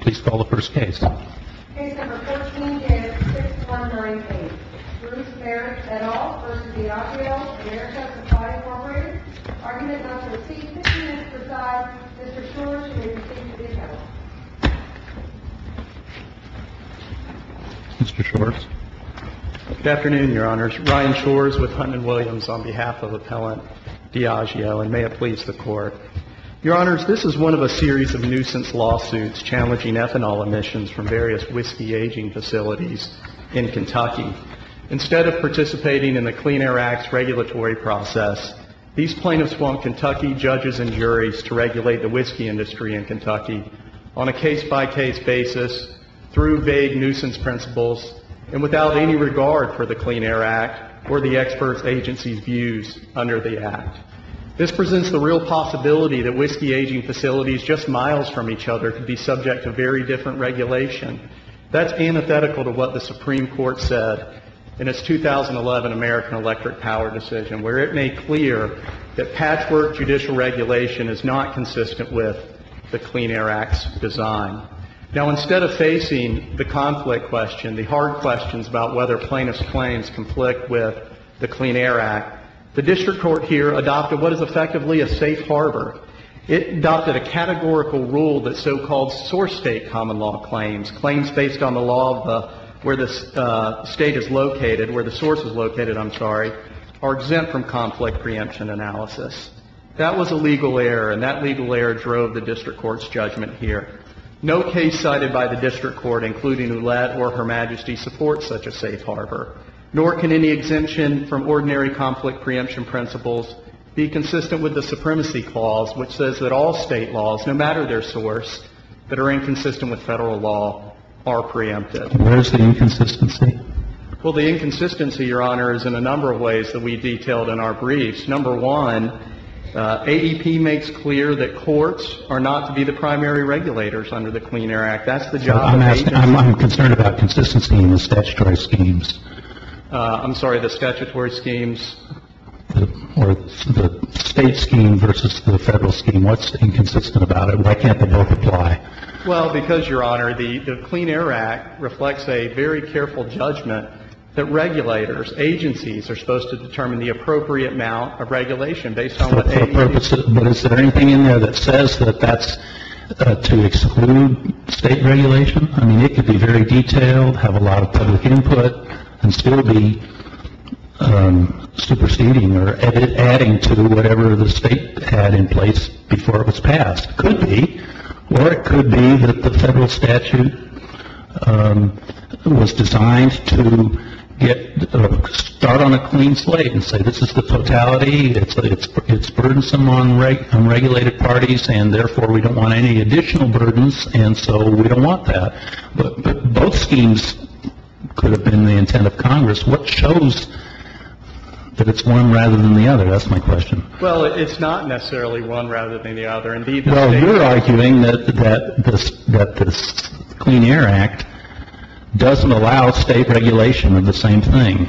Please call the first case. Case No. 14-6198, Bruce Merrick et al. v. Diageo Americas Supply Inc. Argument number C, 15 minutes to decide. Mr. Shores, you may be seated. Mr. Shores. Good afternoon, Your Honors. Ryan Shores with Huntman Williams on behalf of appellant Diageo, and may it please the Court. Your Honors, this is one of a series of nuisance lawsuits challenging ethanol emissions from various whiskey aging facilities in Kentucky. Instead of participating in the Clean Air Act's regulatory process, these plaintiffs want Kentucky judges and juries to regulate the whiskey industry in Kentucky on a case-by-case basis, through vague nuisance principles, and without any regard for the Clean Air Act or the expert agency's views under the Act. This presents the real possibility that whiskey aging facilities just miles from each other could be subject to very different regulation. That's antithetical to what the Supreme Court said in its 2011 American Electric Power decision, where it made clear that patchwork judicial regulation is not consistent with the Clean Air Act's design. Now, instead of facing the conflict question, the hard questions about whether plaintiffs' claims conflict with the Clean Air Act, the district court here adopted what is effectively a safe harbor. It adopted a categorical rule that so-called source state common law claims, claims based on the law of where the state is located, where the source is located, I'm sorry, are exempt from conflict preemption analysis. That was a legal error, and that legal error drove the district court's judgment here. No case cited by the district court, including Ouellette or Her Majesty, supports such a safe harbor, nor can any exemption from ordinary conflict preemption principles be consistent with the supremacy clause, which says that all state laws, no matter their source, that are inconsistent with Federal law, are preempted. And where's the inconsistency? Well, the inconsistency, Your Honor, is in a number of ways that we detailed in our briefs. Number one, AEP makes clear that courts are not to be the primary regulators under the Clean Air Act. That's the job of agencies. I'm concerned about consistency in the statutory schemes. I'm sorry, the statutory schemes? Or the state scheme versus the Federal scheme. What's inconsistent about it? Why can't they both apply? Well, because, Your Honor, the Clean Air Act reflects a very careful judgment that regulators, agencies, are supposed to determine the appropriate amount of regulation based on what AEP says. But is there anything in there that says that that's to exclude state regulation? I mean, it could be very detailed, have a lot of public input, and still be superseding or adding to whatever the state had in place before it was passed. It could be. Or it could be that the Federal statute was designed to start on a clean slate and say, this is the totality, it's burdensome on regulated parties, and therefore we don't want any additional burdens, and so we don't want that. But both schemes could have been the intent of Congress. What shows that it's one rather than the other? That's my question. Well, it's not necessarily one rather than the other. Indeed, the state. Well, you're arguing that this Clean Air Act doesn't allow state regulation of the same thing.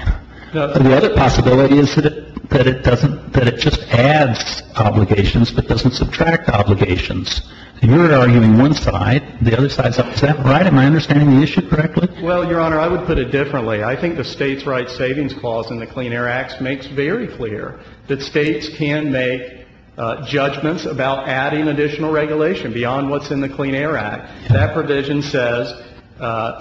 The other possibility is that it doesn't — that it just adds obligations but doesn't subtract obligations. You're arguing one side, the other side says, is that right? Am I understanding the issue correctly? Well, Your Honor, I would put it differently. I think the states' rights savings clause in the Clean Air Act makes very clear that states can make judgments about adding additional regulation beyond what's in the Clean Air Act. That provision says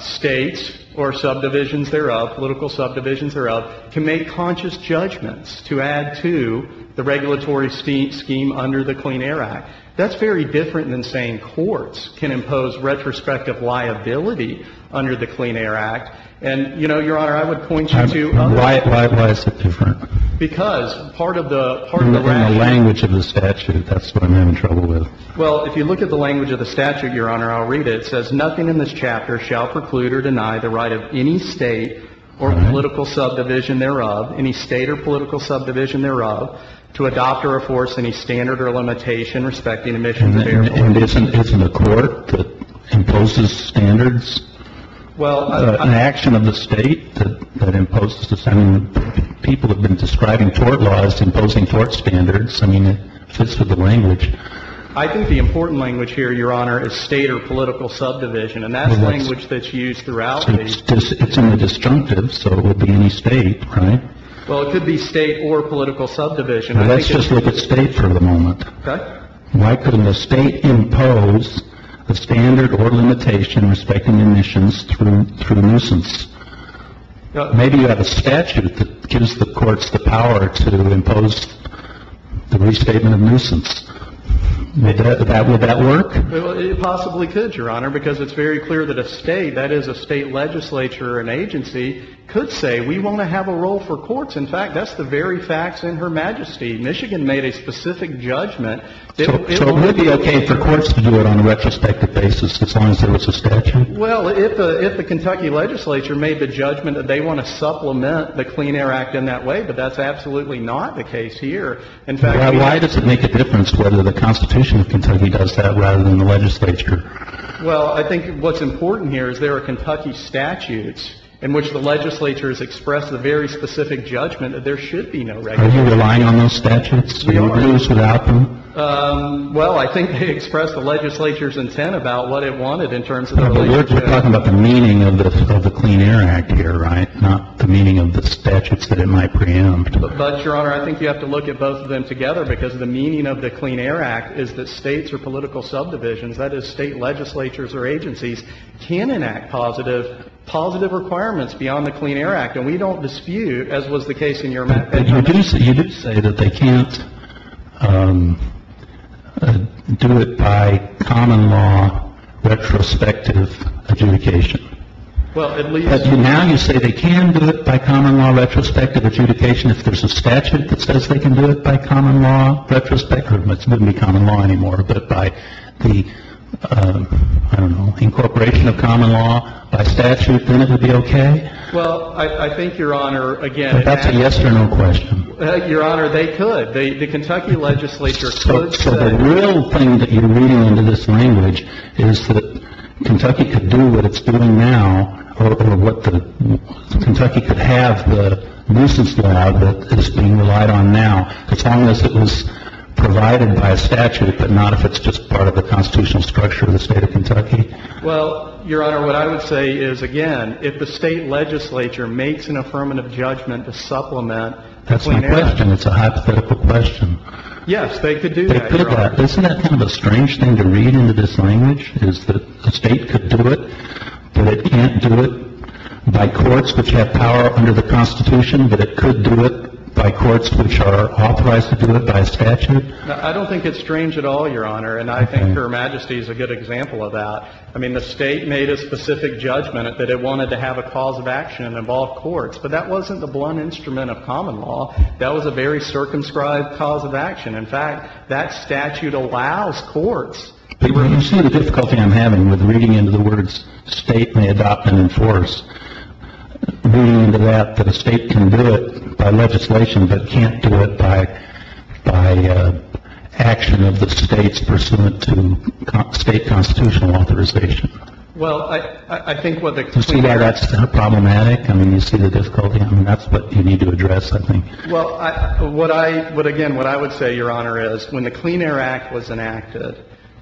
states or subdivisions thereof, political subdivisions thereof, can make conscious judgments to add to the regulatory scheme under the Clean Air Act. That's very different than saying courts can impose retrospective liability under the Clean Air Act. And, you know, Your Honor, I would point you to others. Why is it different? Because part of the — You're looking at the language of the statute. That's what I'm having trouble with. Well, if you look at the language of the statute, Your Honor, I'll read it. It says, nothing in this chapter shall preclude or deny the right of any state or political subdivision thereof, any state or political subdivision thereof, to adopt or enforce any standard or limitation respecting emissions and air pollution. And isn't a court that imposes standards? Well, I — An action of the state that imposes — I mean, people have been describing court laws imposing court standards. I mean, it fits with the language. I think the important language here, Your Honor, is state or political subdivision. And that's language that's used throughout the — It's only disjunctive, so it would be any state, right? Well, it could be state or political subdivision. Let's just look at state for the moment. Okay. Why couldn't a state impose a standard or limitation respecting emissions through nuisance? Maybe you have a statute that gives the courts the power to impose the restatement of nuisance. Would that work? It possibly could, Your Honor, because it's very clear that a state, that is, a state legislature or an agency, could say we want to have a role for courts. In fact, that's the very facts in Her Majesty. Michigan made a specific judgment. So it would be okay for courts to do it on a retrospective basis as long as there was a statute? Well, if the Kentucky legislature made the judgment that they want to supplement the Clean Air Act in that way, but that's absolutely not the case here. Why does it make a difference whether the Constitution of Kentucky does that rather than the legislature? Well, I think what's important here is there are Kentucky statutes in which the legislature has expressed the very specific judgment that there should be no regulation. Are you relying on those statutes? We are. Do you do this without them? Well, I think they express the legislature's intent about what it wanted in terms of the legislature. But we're talking about the meaning of the Clean Air Act here, right, not the meaning of the statutes that it might preempt. But, Your Honor, I think you have to look at both of them together because the meaning of the Clean Air Act is that States or political subdivisions, that is, State legislatures or agencies, can enact positive requirements beyond the Clean Air Act. And we don't dispute, as was the case in your matter. But you do say that they can't do it by common law retrospective adjudication. Well, at least. But now you say they can do it by common law retrospective adjudication. If there's a statute that says they can do it by common law retrospective, it wouldn't be common law anymore, but by the, I don't know, incorporation of common law by statute, then it would be okay? Well, I think, Your Honor, again. That's a yes or no question. Your Honor, they could. The Kentucky legislature could. So the real thing that you're reading into this language is that Kentucky could do what it's doing now or what Kentucky could have, the nuisance law that is being relied on now, as long as it was provided by a statute, but not if it's just part of the constitutional structure of the State of Kentucky. Well, Your Honor, what I would say is, again, if the State legislature makes an affirmative judgment to supplement the Clean Air Act. That's my question. It's a hypothetical question. Yes, they could do that, Your Honor. Isn't that kind of a strange thing to read into this language is that the State could do it, but it can't do it by courts which have power under the Constitution, but it could do it by courts which are authorized to do it by statute? I don't think it's strange at all, Your Honor, and I think Her Majesty is a good example of that. I mean, the State made a specific judgment that it wanted to have a cause of action that involved courts, but that wasn't the blunt instrument of common law. That was a very circumscribed cause of action. In fact, that statute allows courts. Well, you see the difficulty I'm having with reading into the words, State may adopt and enforce, reading into that that a State can do it by legislation but can't do it by action of the States pursuant to State constitutional authorization. Well, I think what the Clean Air Act. Do you see why that's problematic? I mean, you see the difficulty. I mean, that's what you need to address, I think. Well, what I would again, what I would say, Your Honor, is when the Clean Air Act was enacted,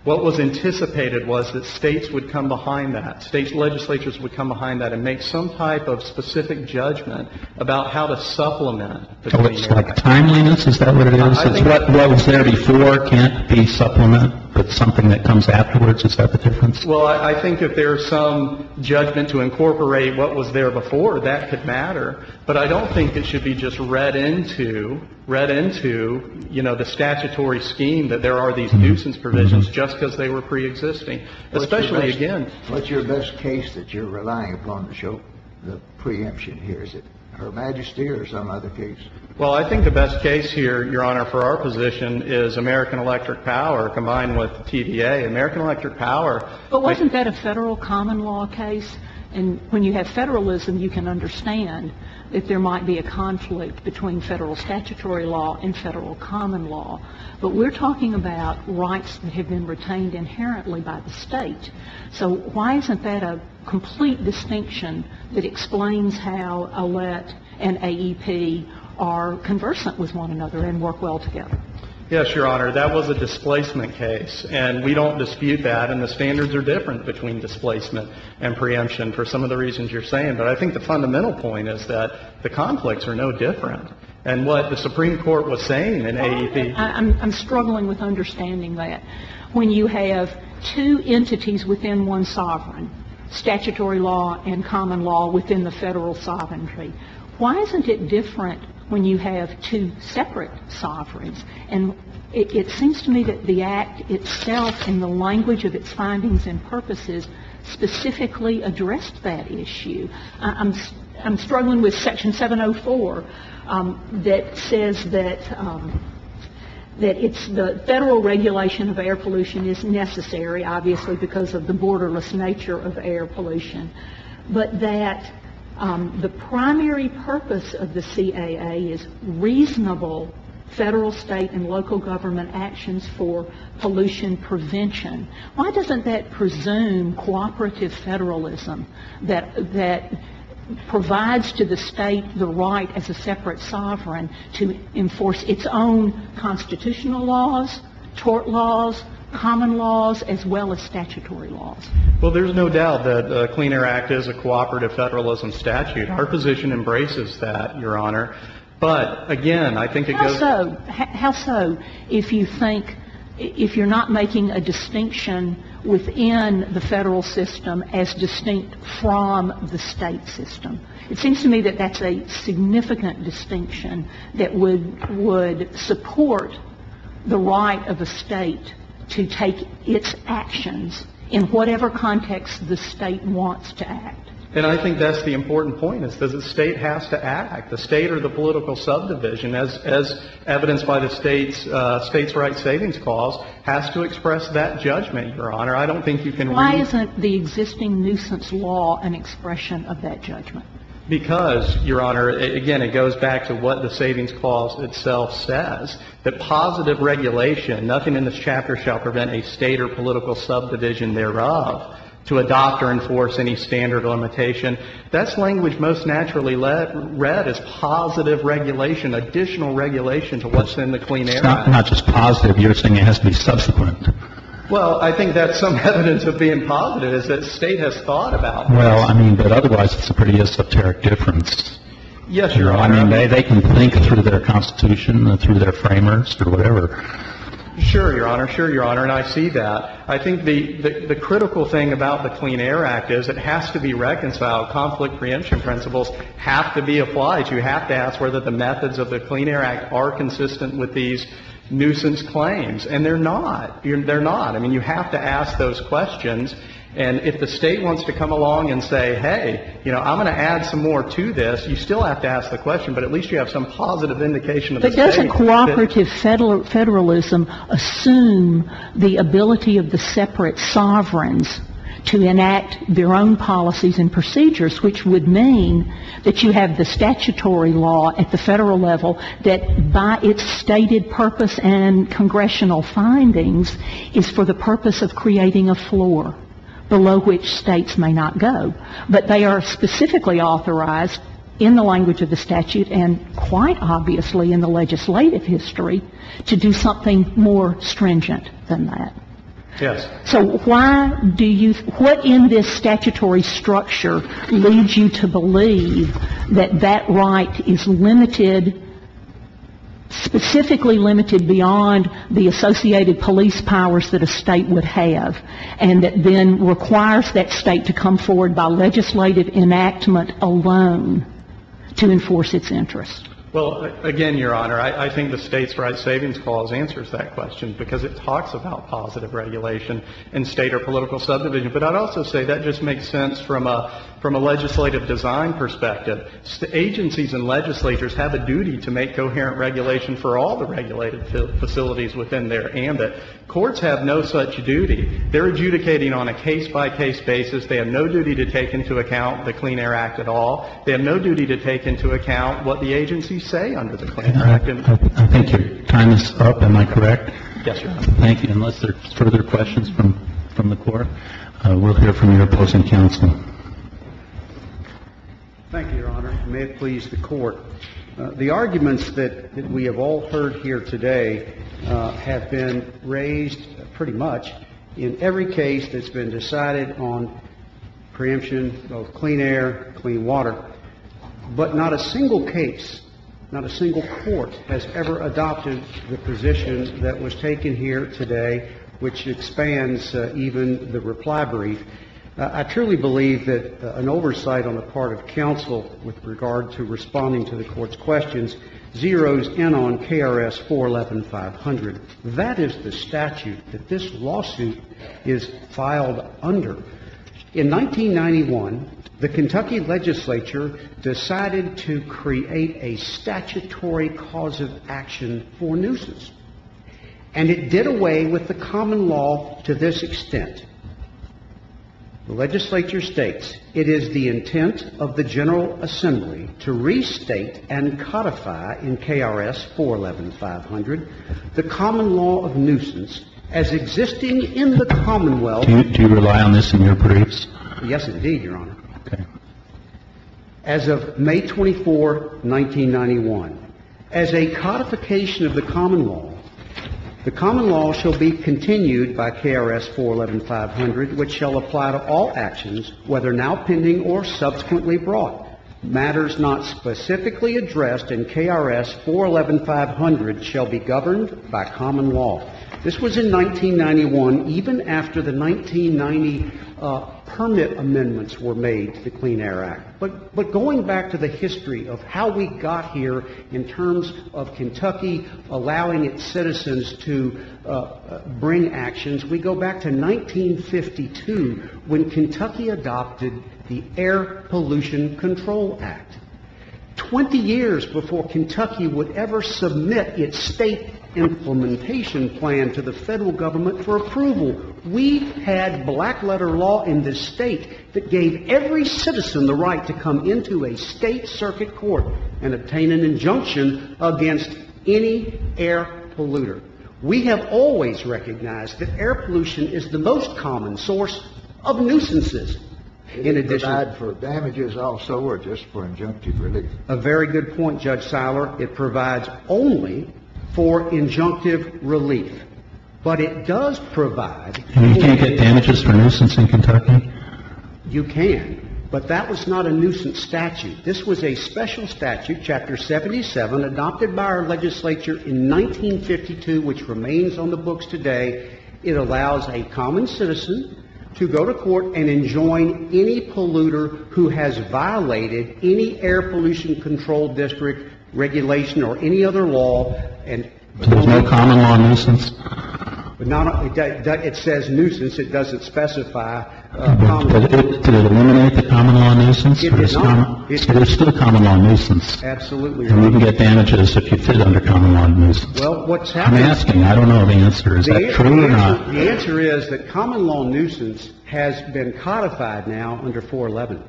what was anticipated was that States would come behind that, States legislatures would come behind that and make some type of specific judgment about how to supplement the Clean Air Act. So it's like timeliness? Is that what it is? What was there before can't be supplemented with something that comes afterwards? Is that the difference? Well, I think if there's some judgment to incorporate what was there before, that could matter, but I don't think it should be just read into, read into, you know, the statutory scheme that there are these nuisance provisions just because they were preexisting, especially again. What's your best case that you're relying upon to show the preemption here? Is it Her Majesty or some other case? Well, I think the best case here, Your Honor, for our position is American Electric Power combined with TPA. American Electric Power. But wasn't that a Federal common law case? And when you have Federalism, you can understand that there might be a conflict between Federal statutory law and Federal common law. But we're talking about rights that have been retained inherently by the State. So why isn't that a complete distinction that explains how ALET and AEP are conversant with one another and work well together? Yes, Your Honor. That was a displacement case, and we don't dispute that, and the standards are different between displacement and preemption for some of the reasons you're saying. But I think the fundamental point is that the conflicts are no different. And what the Supreme Court was saying in AEP — I'm struggling with understanding that. When you have two entities within one sovereign, statutory law and common law within the Federal sovereignty, why isn't it different when you have two separate sovereigns? And it seems to me that the Act itself, in the language of its findings and purposes, specifically addressed that issue. I'm struggling with Section 704 that says that it's the Federal regulation of air pollution is necessary, obviously, because of the borderless nature of air pollution, but that the primary purpose of the CAA is reasonable Federal, State, and local government actions for pollution prevention. Why doesn't that presume cooperative Federalism that provides to the State the right as a separate sovereign to enforce its own constitutional laws, tort laws, common laws, as well as statutory laws? Well, there's no doubt that the Clean Air Act is a cooperative Federalism statute. Our position embraces that, Your Honor. But, again, I think it goes to the State. How so if you think, if you're not making a distinction within the Federal system as distinct from the State system? It seems to me that that's a significant distinction that would support the right of a State to take its actions in whatever context the State wants to act. And I think that's the important point, is that the State has to act. The State or the political subdivision, as evidenced by the State's Rights Savings Clause, has to express that judgment, Your Honor. I don't think you can really ---- Why isn't the existing nuisance law an expression of that judgment? Because, Your Honor, again, it goes back to what the Savings Clause itself says, that positive regulation, nothing in this chapter shall prevent a State or political subdivision thereof to adopt or enforce any standard limitation. That's language most naturally read as positive regulation, additional regulation to what's in the Clean Air Act. It's not just positive. You're saying it has to be subsequent. Well, I think that's some evidence of being positive, is that State has thought about this. Well, I mean, but otherwise it's a pretty esoteric difference. Yes, Your Honor. I mean, they can think through their Constitution and through their framers or whatever. Sure, Your Honor. Sure, Your Honor. And I see that. But I think the critical thing about the Clean Air Act is it has to be reconciled. Conflict preemption principles have to be applied. You have to ask whether the methods of the Clean Air Act are consistent with these nuisance claims. And they're not. They're not. I mean, you have to ask those questions. And if the State wants to come along and say, hey, you know, I'm going to add some more to this, you still have to ask the question, but at least you have some positive indication of the State. How does a cooperative federalism assume the ability of the separate sovereigns to enact their own policies and procedures, which would mean that you have the statutory law at the federal level that by its stated purpose and congressional findings is for the purpose of creating a floor below which States may not go, but they are specifically authorized in the language of the statute and quite obviously in the legislative history to do something more stringent than that? Yes. So why do you, what in this statutory structure leads you to believe that that right is limited, specifically limited beyond the associated police powers that a State would need to enforce its interests? Well, again, Your Honor, I think the State's Right Savings Clause answers that question because it talks about positive regulation in State or political subdivision. But I'd also say that just makes sense from a legislative design perspective. Agencies and legislators have a duty to make coherent regulation for all the regulated facilities within their ambit. Courts have no such duty. They're adjudicating on a case-by-case basis. They have no duty to take into account the Clean Air Act at all. They have no duty to take into account what the agencies say under the Clean Air Act. I think your time is up. Am I correct? Yes, Your Honor. Thank you. Unless there are further questions from the Court, we'll hear from your opposing counsel. Thank you, Your Honor. May it please the Court. The arguments that we have all heard here today have been raised pretty much in every case that's been decided on preemption of clean air, clean water. But not a single case, not a single court has ever adopted the position that was taken here today, which expands even the reply brief. I truly believe that an oversight on the part of counsel with regard to responding to the Court's questions zeroes in on KRS 411-500. That is the statute that this lawsuit is filed under. In 1991, the Kentucky legislature decided to create a statutory cause of action for nuisance. And it did away with the common law to this extent. The legislature states, it is the intent of the General Assembly to restate and codify in KRS 411-500 the common law of nuisance as existing in the Commonwealth. Do you rely on this in your briefs? Yes, indeed, Your Honor. Okay. As of May 24, 1991, as a codification of the common law, the common law shall be continued by KRS 411-500, which shall apply to all actions, whether now pending or subsequently brought. Matters not specifically addressed in KRS 411-500 shall be governed by common law. This was in 1991, even after the 1990 permit amendments were made to the Clean Air Act. But going back to the history of how we got here in terms of Kentucky allowing its citizens to bring actions, we go back to 1952, when Kentucky adopted the Air Pollution Control Act. Twenty years before Kentucky would ever submit its state implementation plan to the Federal Government for approval, we had black-letter law in this State that gave every citizen the right to come into a State circuit court and obtain an injunction against any air polluter. We have always recognized that air pollution is the most common source of nuisances. It doesn't provide for damages also or just for injunctive relief. A very good point, Judge Siler. It provides only for injunctive relief. But it does provide for injunctive relief. And you can't get damages for nuisance in Kentucky? You can. But that was not a nuisance statute. This was a special statute, Chapter 77, adopted by our legislature in 1952, which remains on the books today. It allows a common citizen to go to court and enjoin any polluter who has violated any air pollution control district regulation or any other law. But there's no common law nuisance? No, no. It says nuisance. It doesn't specify common law nuisance. Did it eliminate the common law nuisance? It did not. But there's still common law nuisance. Absolutely. And you can get damages if you fit under common law nuisance. Well, what's happening? I'm asking. I don't know the answer. Is that true or not? The answer is that common law nuisance has been codified now under 411.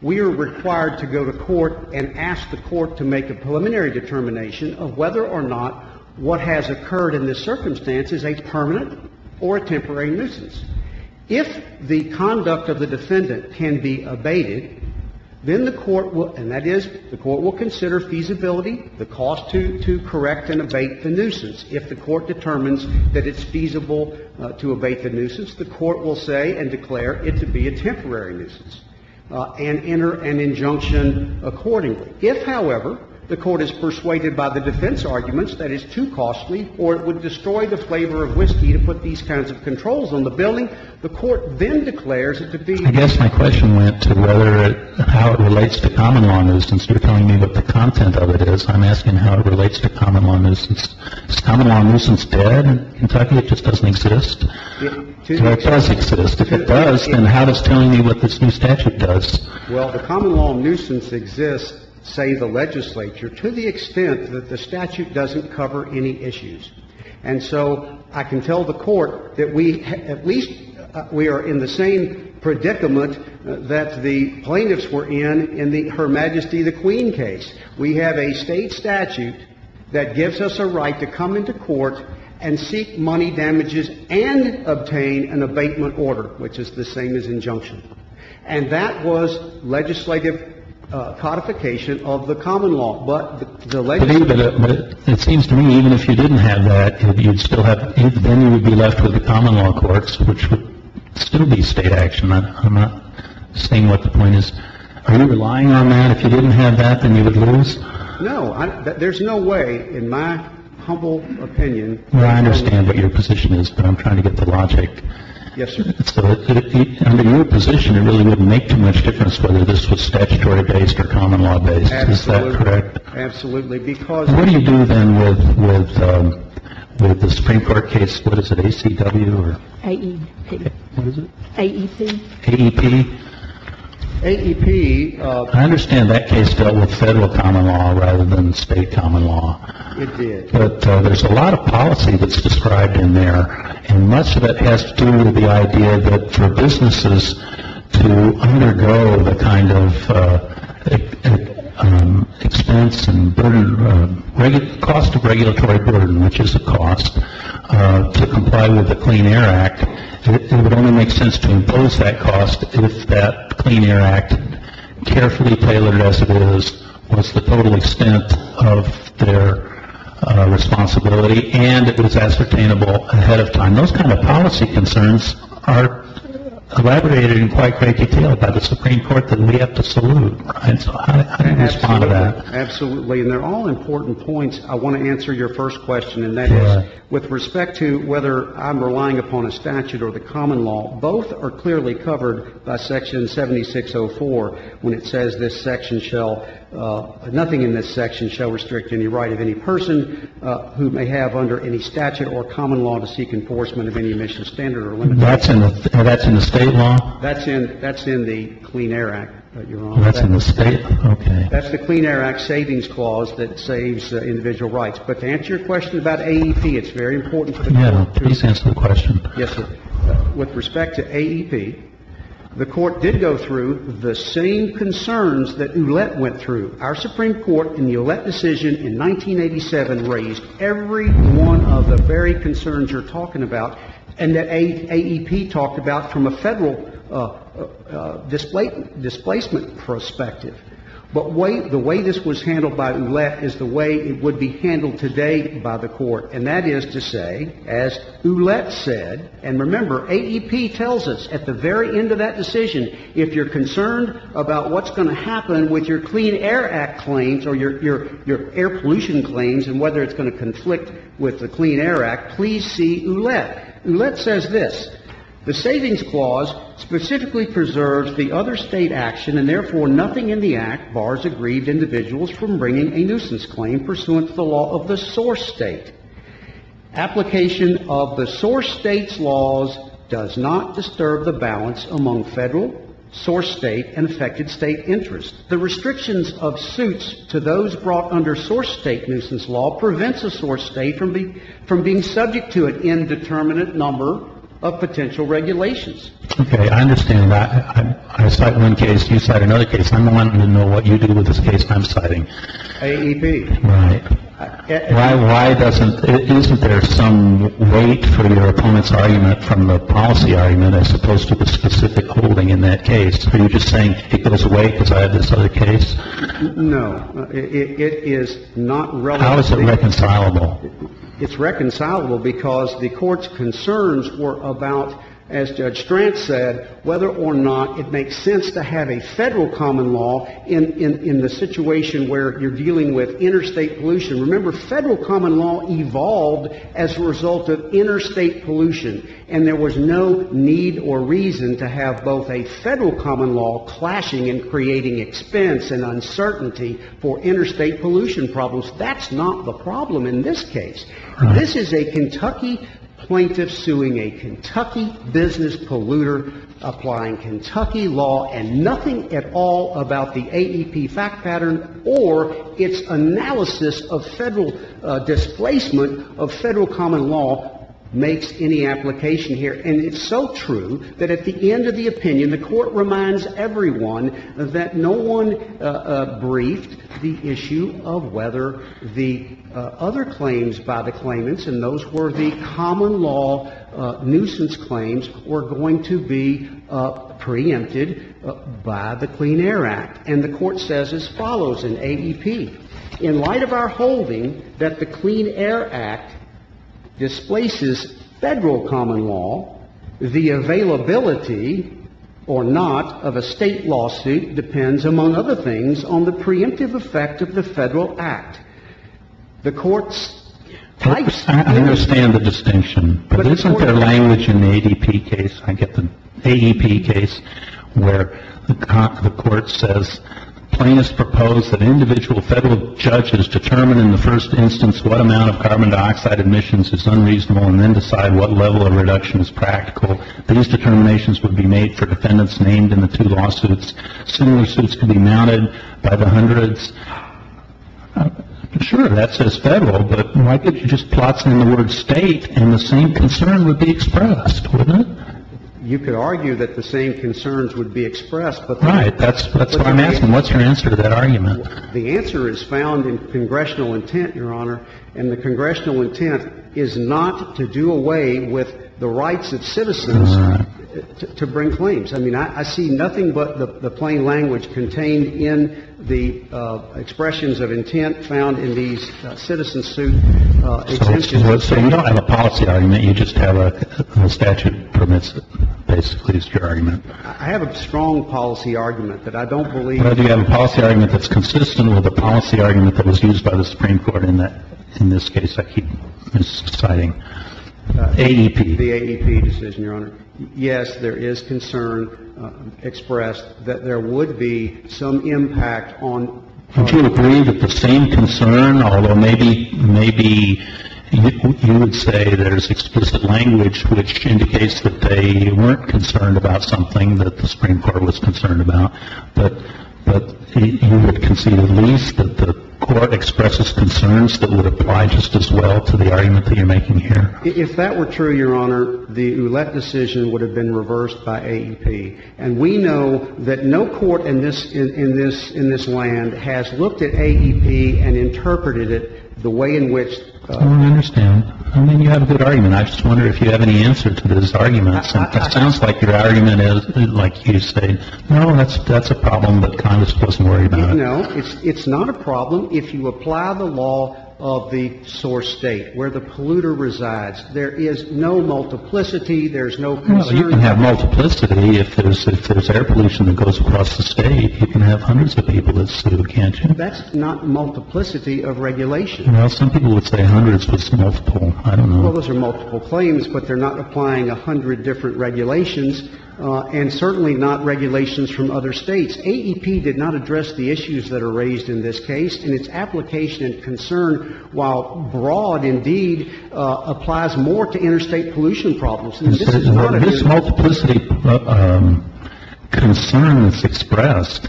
We are required to go to court and ask the court to make a preliminary determination of whether or not what has occurred in this circumstance is a permanent or a temporary nuisance. If the conduct of the defendant can be abated, then the court will, and that is the If the court determines that it's feasible to abate the nuisance, the court will say and declare it to be a temporary nuisance and enter an injunction accordingly. If, however, the court is persuaded by the defense arguments that it's too costly or it would destroy the flavor of whiskey to put these kinds of controls on the building, the court then declares it to be a temporary nuisance. I guess my question went to whether it, how it relates to common law nuisance. You're telling me what the content of it is. I'm asking how it relates to common law nuisance. Is common law nuisance dead in Kentucky? It just doesn't exist? If it does exist, if it does, then how does telling me what this new statute does? Well, the common law nuisance exists, say, the legislature, to the extent that the statute doesn't cover any issues. And so I can tell the Court that we, at least we are in the same predicament that the plaintiffs were in in the Her Majesty the Queen case. We have a State statute that gives us a right to come into court and seek money damages and obtain an abatement order, which is the same as injunction. And that was legislative codification of the common law. But the legislature ---- But it seems to me even if you didn't have that, you would still have, then you would be left with the common law courts, which would still be State action. I'm not saying what the point is. Are you relying on that? If you didn't have that, then you would lose? No. There's no way, in my humble opinion ---- Well, I understand what your position is, but I'm trying to get the logic. Yes, sir. So under your position, it really wouldn't make too much difference whether this was statutory-based or common law-based. Is that correct? Absolutely. Because ---- What do you do, then, with the Supreme Court case, what is it, ACW or ---- AEP. What is it? AEP. AEP. AEP. I understand that case dealt with Federal common law rather than State common law. It did. But there's a lot of policy that's described in there, and much of that has to do with the idea that for businesses to undergo the kind of expense and burden, cost of regulatory burden, which is a cost to comply with the Clean Air Act, it would only make sense to if that Clean Air Act, carefully tailored as it was, was the total extent of their responsibility and it was ascertainable ahead of time. Those kind of policy concerns are elaborated in quite great detail by the Supreme Court that we have to salute. And so I can respond to that. Absolutely. And they're all important points. I want to answer your first question, and that is, with respect to whether I'm relying upon a statute or the common law, both are clearly covered by Section 7604 when it says this section shall ---- nothing in this section shall restrict any right of any person who may have under any statute or common law to seek enforcement of any emission standard or limitation. That's in the State law? That's in the Clean Air Act, but you're wrong. That's in the State law. Okay. That's the Clean Air Act Savings Clause that saves individual rights. But to answer your question about AEP, it's very important to the matter. Please answer the question. Yes, sir. With respect to AEP, the Court did go through the same concerns that Ouellette went through. Our Supreme Court in the Ouellette decision in 1987 raised every one of the very concerns you're talking about and that AEP talked about from a Federal displacement perspective. But the way this was handled by Ouellette is the way it would be handled today by the The Federal displacement perspective would be to say, as Ouellette said, and remember, AEP tells us at the very end of that decision if you're concerned about what's going to happen with your Clean Air Act claims or your air pollution claims and whether it's going to conflict with the Clean Air Act, please see Ouellette. Ouellette says this. Application of the source State's laws does not disturb the balance among Federal, source State, and affected State interests. The restrictions of suits to those brought under source State nuisance law prevents the source State from being subject to an indeterminate number of potential regulations. Okay. I understand that. I cite one case. You cite another case. I'm wanting to know what you do with this case I'm citing. AEP. Right. Why doesn't — isn't there some weight for your opponent's argument from the policy argument as opposed to the specific holding in that case? Are you just saying it goes away because I have this other case? No. It is not relevant. How is it reconcilable? It's reconcilable because the Court's concerns were about, as Judge Strand said, whether or not it makes sense to have a Federal common law in the situation where you're involved as a result of interstate pollution, and there was no need or reason to have both a Federal common law clashing and creating expense and uncertainty for interstate pollution problems. That's not the problem in this case. This is a Kentucky plaintiff suing a Kentucky business polluter, applying Kentucky law, and nothing at all about the AEP fact pattern or its analysis of Federal displacement of Federal common law makes any application here. And it's so true that at the end of the opinion, the Court reminds everyone that no one briefed the issue of whether the other claims by the claimants, and those were the common law nuisance claims, were going to be preempted by the Clean Air Act. And the Court says as follows in AEP, in light of our holding that the Clean Air Act displaces Federal common law, the availability or not of a State lawsuit depends, among other things, on the preemptive effect of the Federal Act. The Court's... I understand the distinction, but isn't there language in the AEP case, I get the AEP case, where the Court says plaintiffs propose that individual Federal judges determine in the first instance what amount of carbon dioxide emissions is unreasonable and then decide what level of reduction is practical. These determinations would be made for defendants named in the two lawsuits. Similar suits could be mounted by the hundreds. Sure, that says Federal, but why couldn't you just plot something in the word State and the same concern would be expressed, wouldn't it? You could argue that the same concerns would be expressed, but... Right. That's why I'm asking, what's your answer to that argument? The answer is found in congressional intent, Your Honor, and the congressional intent is not to do away with the rights of citizens to bring claims. I mean, I see nothing but the plain language contained in the expressions of intent found in these citizen suit exemptions. So you don't have a policy argument. You just have a statute that permits it, basically, is your argument. I have a strong policy argument, but I don't believe... Well, do you have a policy argument that's consistent with the policy argument that was used by the Supreme Court in this case? I keep misciting. AEP. The AEP decision, Your Honor. Yes, there is concern expressed that there would be some impact on... Would you agree that the same concern, although maybe you would say there's explicit language which indicates that they weren't concerned about something that the Supreme Court was concerned about, but you would concede at least that the Court expresses concerns that would apply just as well to the argument that you're making here? If that were true, Your Honor, the Ouellette decision would have been reversed by AEP. And we know that no court in this land has looked at AEP and interpreted it the way in which... I don't understand. I mean, you have a good argument. I just wonder if you have any answer to this argument. It sounds like your argument is, like you say, no, that's a problem, but Congress doesn't worry about it. No, it's not a problem if you apply the law of the source State, where the polluter resides. There is no multiplicity. There's no concern. Well, you can have multiplicity if there's air pollution that goes across the State. You can have hundreds of people that sit in a canteen. That's not multiplicity of regulation. Well, some people would say hundreds, but it's multiple. I don't know. Well, those are multiple claims, but they're not applying a hundred different regulations, and certainly not regulations from other States. AEP did not address the issues that are raised in this case, and its application and concern, while broad, indeed, applies more to interstate pollution problems. And this is not a new... This multiplicity concern that's expressed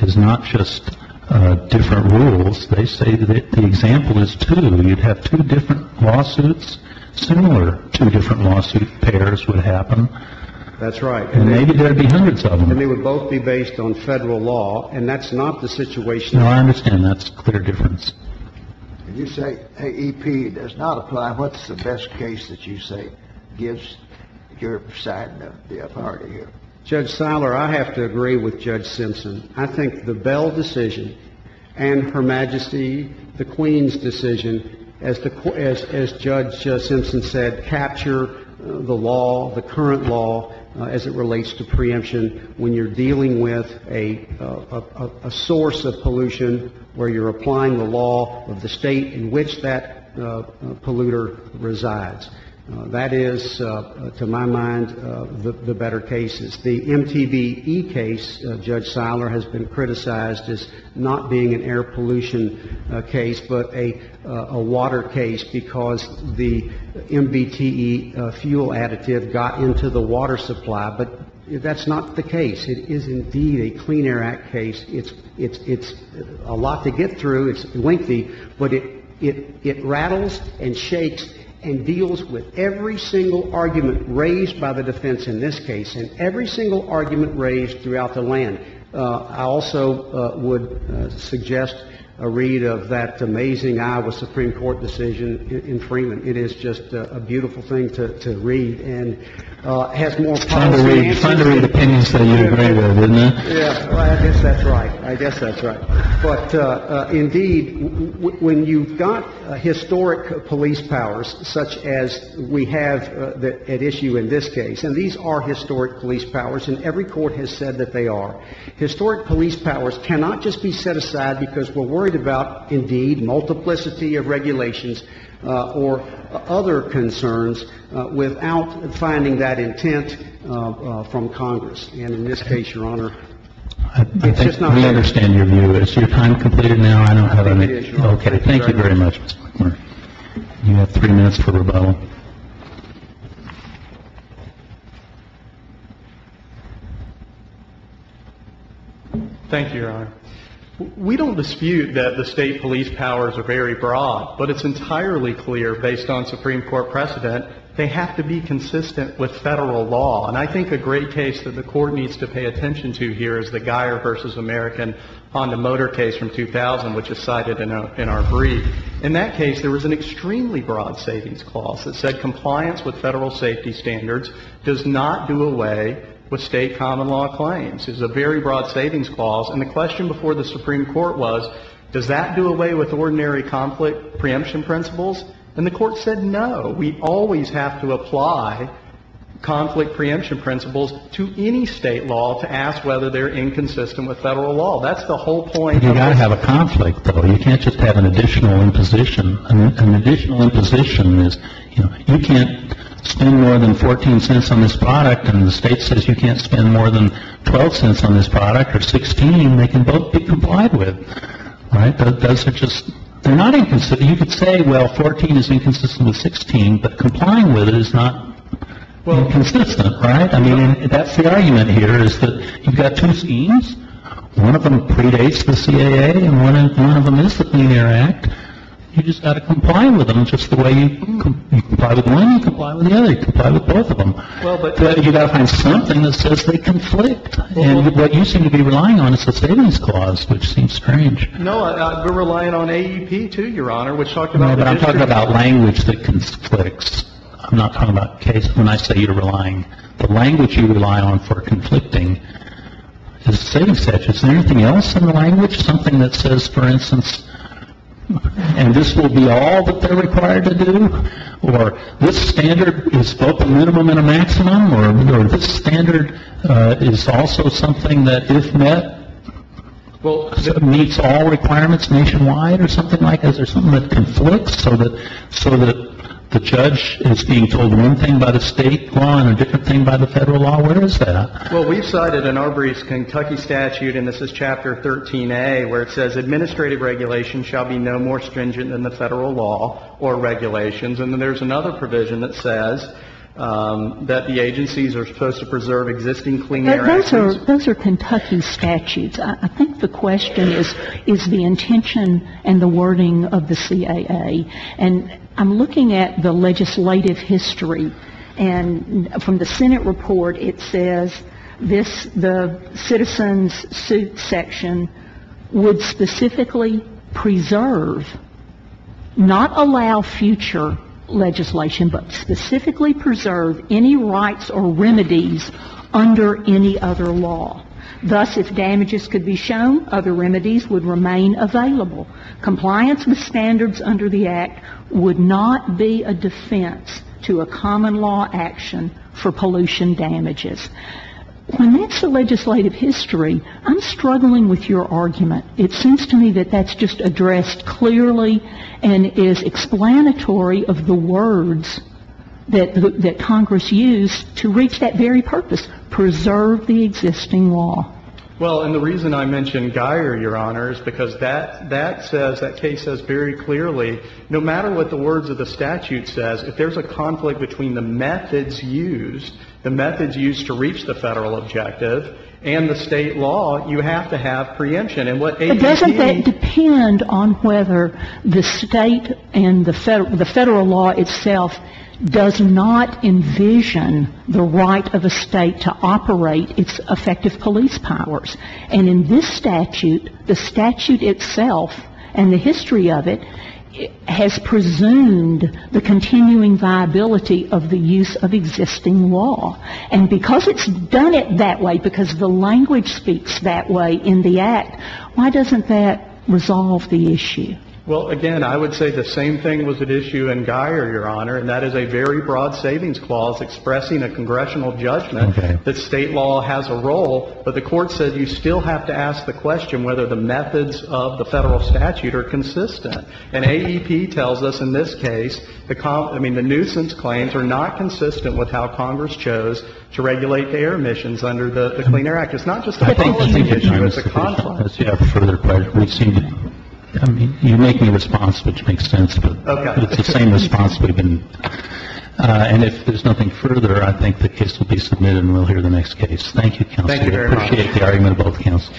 is not just different rules. They say that the example is two. You'd have two different lawsuits. Similar two different lawsuit pairs would happen. That's right. And maybe there would be hundreds of them. And they would both be based on Federal law, and that's not the situation... No, I understand. That's a clear difference. You say AEP does not apply. What's the best case that you say gives your side the authority here? Judge Siler, I have to agree with Judge Simpson. I think the Bell decision and Her Majesty the Queen's decision, as Judge Simpson said, capture the law, the current law, as it relates to preemption when you're applying the law of the state in which that polluter resides. That is, to my mind, the better cases. The MTVE case, Judge Siler has been criticized as not being an air pollution case, but a water case, because the MBTE fuel additive got into the water supply. But that's not the case. It is, indeed, a Clean Air Act case. It's a lot to get through. It's lengthy. But it rattles and shakes and deals with every single argument raised by the defense in this case, and every single argument raised throughout the land. I also would suggest a read of that amazing Iowa Supreme Court decision in Freeman. It is just a beautiful thing to read and has more... Try to read the opinions that you agree with, wouldn't you? Yes. I guess that's right. I guess that's right. But, indeed, when you've got historic police powers such as we have at issue in this case, and these are historic police powers, and every court has said that they are, historic police powers cannot just be set aside because we're worried about, indeed, multiplicity of regulations or other concerns without finding that intent from Congress. And in this case, Your Honor, it's just not fair. I think we understand your view. Is your time completed now? I don't have any... Okay. Thank you very much, Mr. McClure. You have three minutes for rebuttal. Thank you, Your Honor. We don't dispute that the State police powers are very broad, but it's entirely clear, based on Supreme Court precedent, they have to be consistent with Federal common law. And I think a great case that the Court needs to pay attention to here is the Guyer v. American Honda Motor case from 2000, which is cited in our brief. In that case, there was an extremely broad savings clause that said compliance with Federal safety standards does not do away with State common law claims. It was a very broad savings clause. And the question before the Supreme Court was, does that do away with ordinary conflict preemption principles? And the Court said, no. We always have to apply conflict preemption principles to any State law to ask whether they're inconsistent with Federal law. That's the whole point of our... You've got to have a conflict, though. You can't just have an additional imposition. An additional imposition is, you know, you can't spend more than 14 cents on this product, and the State says you can't spend more than 12 cents on this product, or 16. They can both be complied with. Right? Those are just... They're not inconsistent. But you could say, well, 14 is inconsistent with 16, but complying with it is not inconsistent. Right? I mean, that's the argument here, is that you've got two schemes. One of them predates the CAA, and one of them is the Clean Air Act. You've just got to comply with them just the way you comply with one and comply with the other. You comply with both of them. But you've got to find something that says they conflict. And what you seem to be relying on is the savings clause, which seems strange. No, we're relying on AEP, too, Your Honor, which talked about... No, but I'm talking about language that conflicts. I'm not talking about case... When I say you're relying, the language you rely on for conflicting is savings. Is there anything else in the language? Something that says, for instance, and this will be all that they're required to do, or this standard is both a minimum and a maximum, or this standard is also something that, if there are no requirements nationwide or something like that, is there something that conflicts so that the judge is being told one thing by the State law and a different thing by the Federal law? Where is that? Well, we've cited an Arbery's Kentucky statute, and this is Chapter 13A, where it says, Administrative regulations shall be no more stringent than the Federal law or regulations. And then there's another provision that says that the agencies are supposed to preserve existing Clean Air Act... Those are Kentucky statutes. I think the question is, is the intention and the wording of the CAA. And I'm looking at the legislative history, and from the Senate report, it says this, the citizens' suit section, would specifically preserve, not allow future legislation, but specifically preserve any rights or remedies under any other law. Thus, if damages could be shown, other remedies would remain available. Compliance with standards under the Act would not be a defense to a common law action for pollution damages. When that's the legislative history, I'm struggling with your argument. It seems to me that that's just addressed clearly and is explanatory of the words that Well, and the reason I mentioned Guyer, Your Honor, is because that says, that case says very clearly, no matter what the words of the statute says, if there's a conflict between the methods used, the methods used to reach the Federal objective and the State law, you have to have preemption. And what ABC... But doesn't that depend on whether the State and the Federal, the Federal law itself does not envision the right of a State to operate its effective police powers. And in this statute, the statute itself and the history of it has presumed the continuing viability of the use of existing law. And because it's done it that way, because the language speaks that way in the Act, why doesn't that resolve the issue? Well, again, I would say the same thing was at issue in Guyer, Your Honor, and that is a very broad savings clause expressing a congressional judgment that State law has a role, but the Court said you still have to ask the question whether the methods of the Federal statute are consistent. And AEP tells us in this case, I mean, the nuisance claims are not consistent with how Congress chose to regulate their emissions under the Clean Air Act. It's not just a policy issue, it's a conflict. As you have a further question, we seem to be making a response which makes sense, but it's the same response we've been... And if there's nothing further, I think the case will be submitted and we'll hear the next case. Thank you, Counselor. Thank you very much. I appreciate the argument of both Counselors.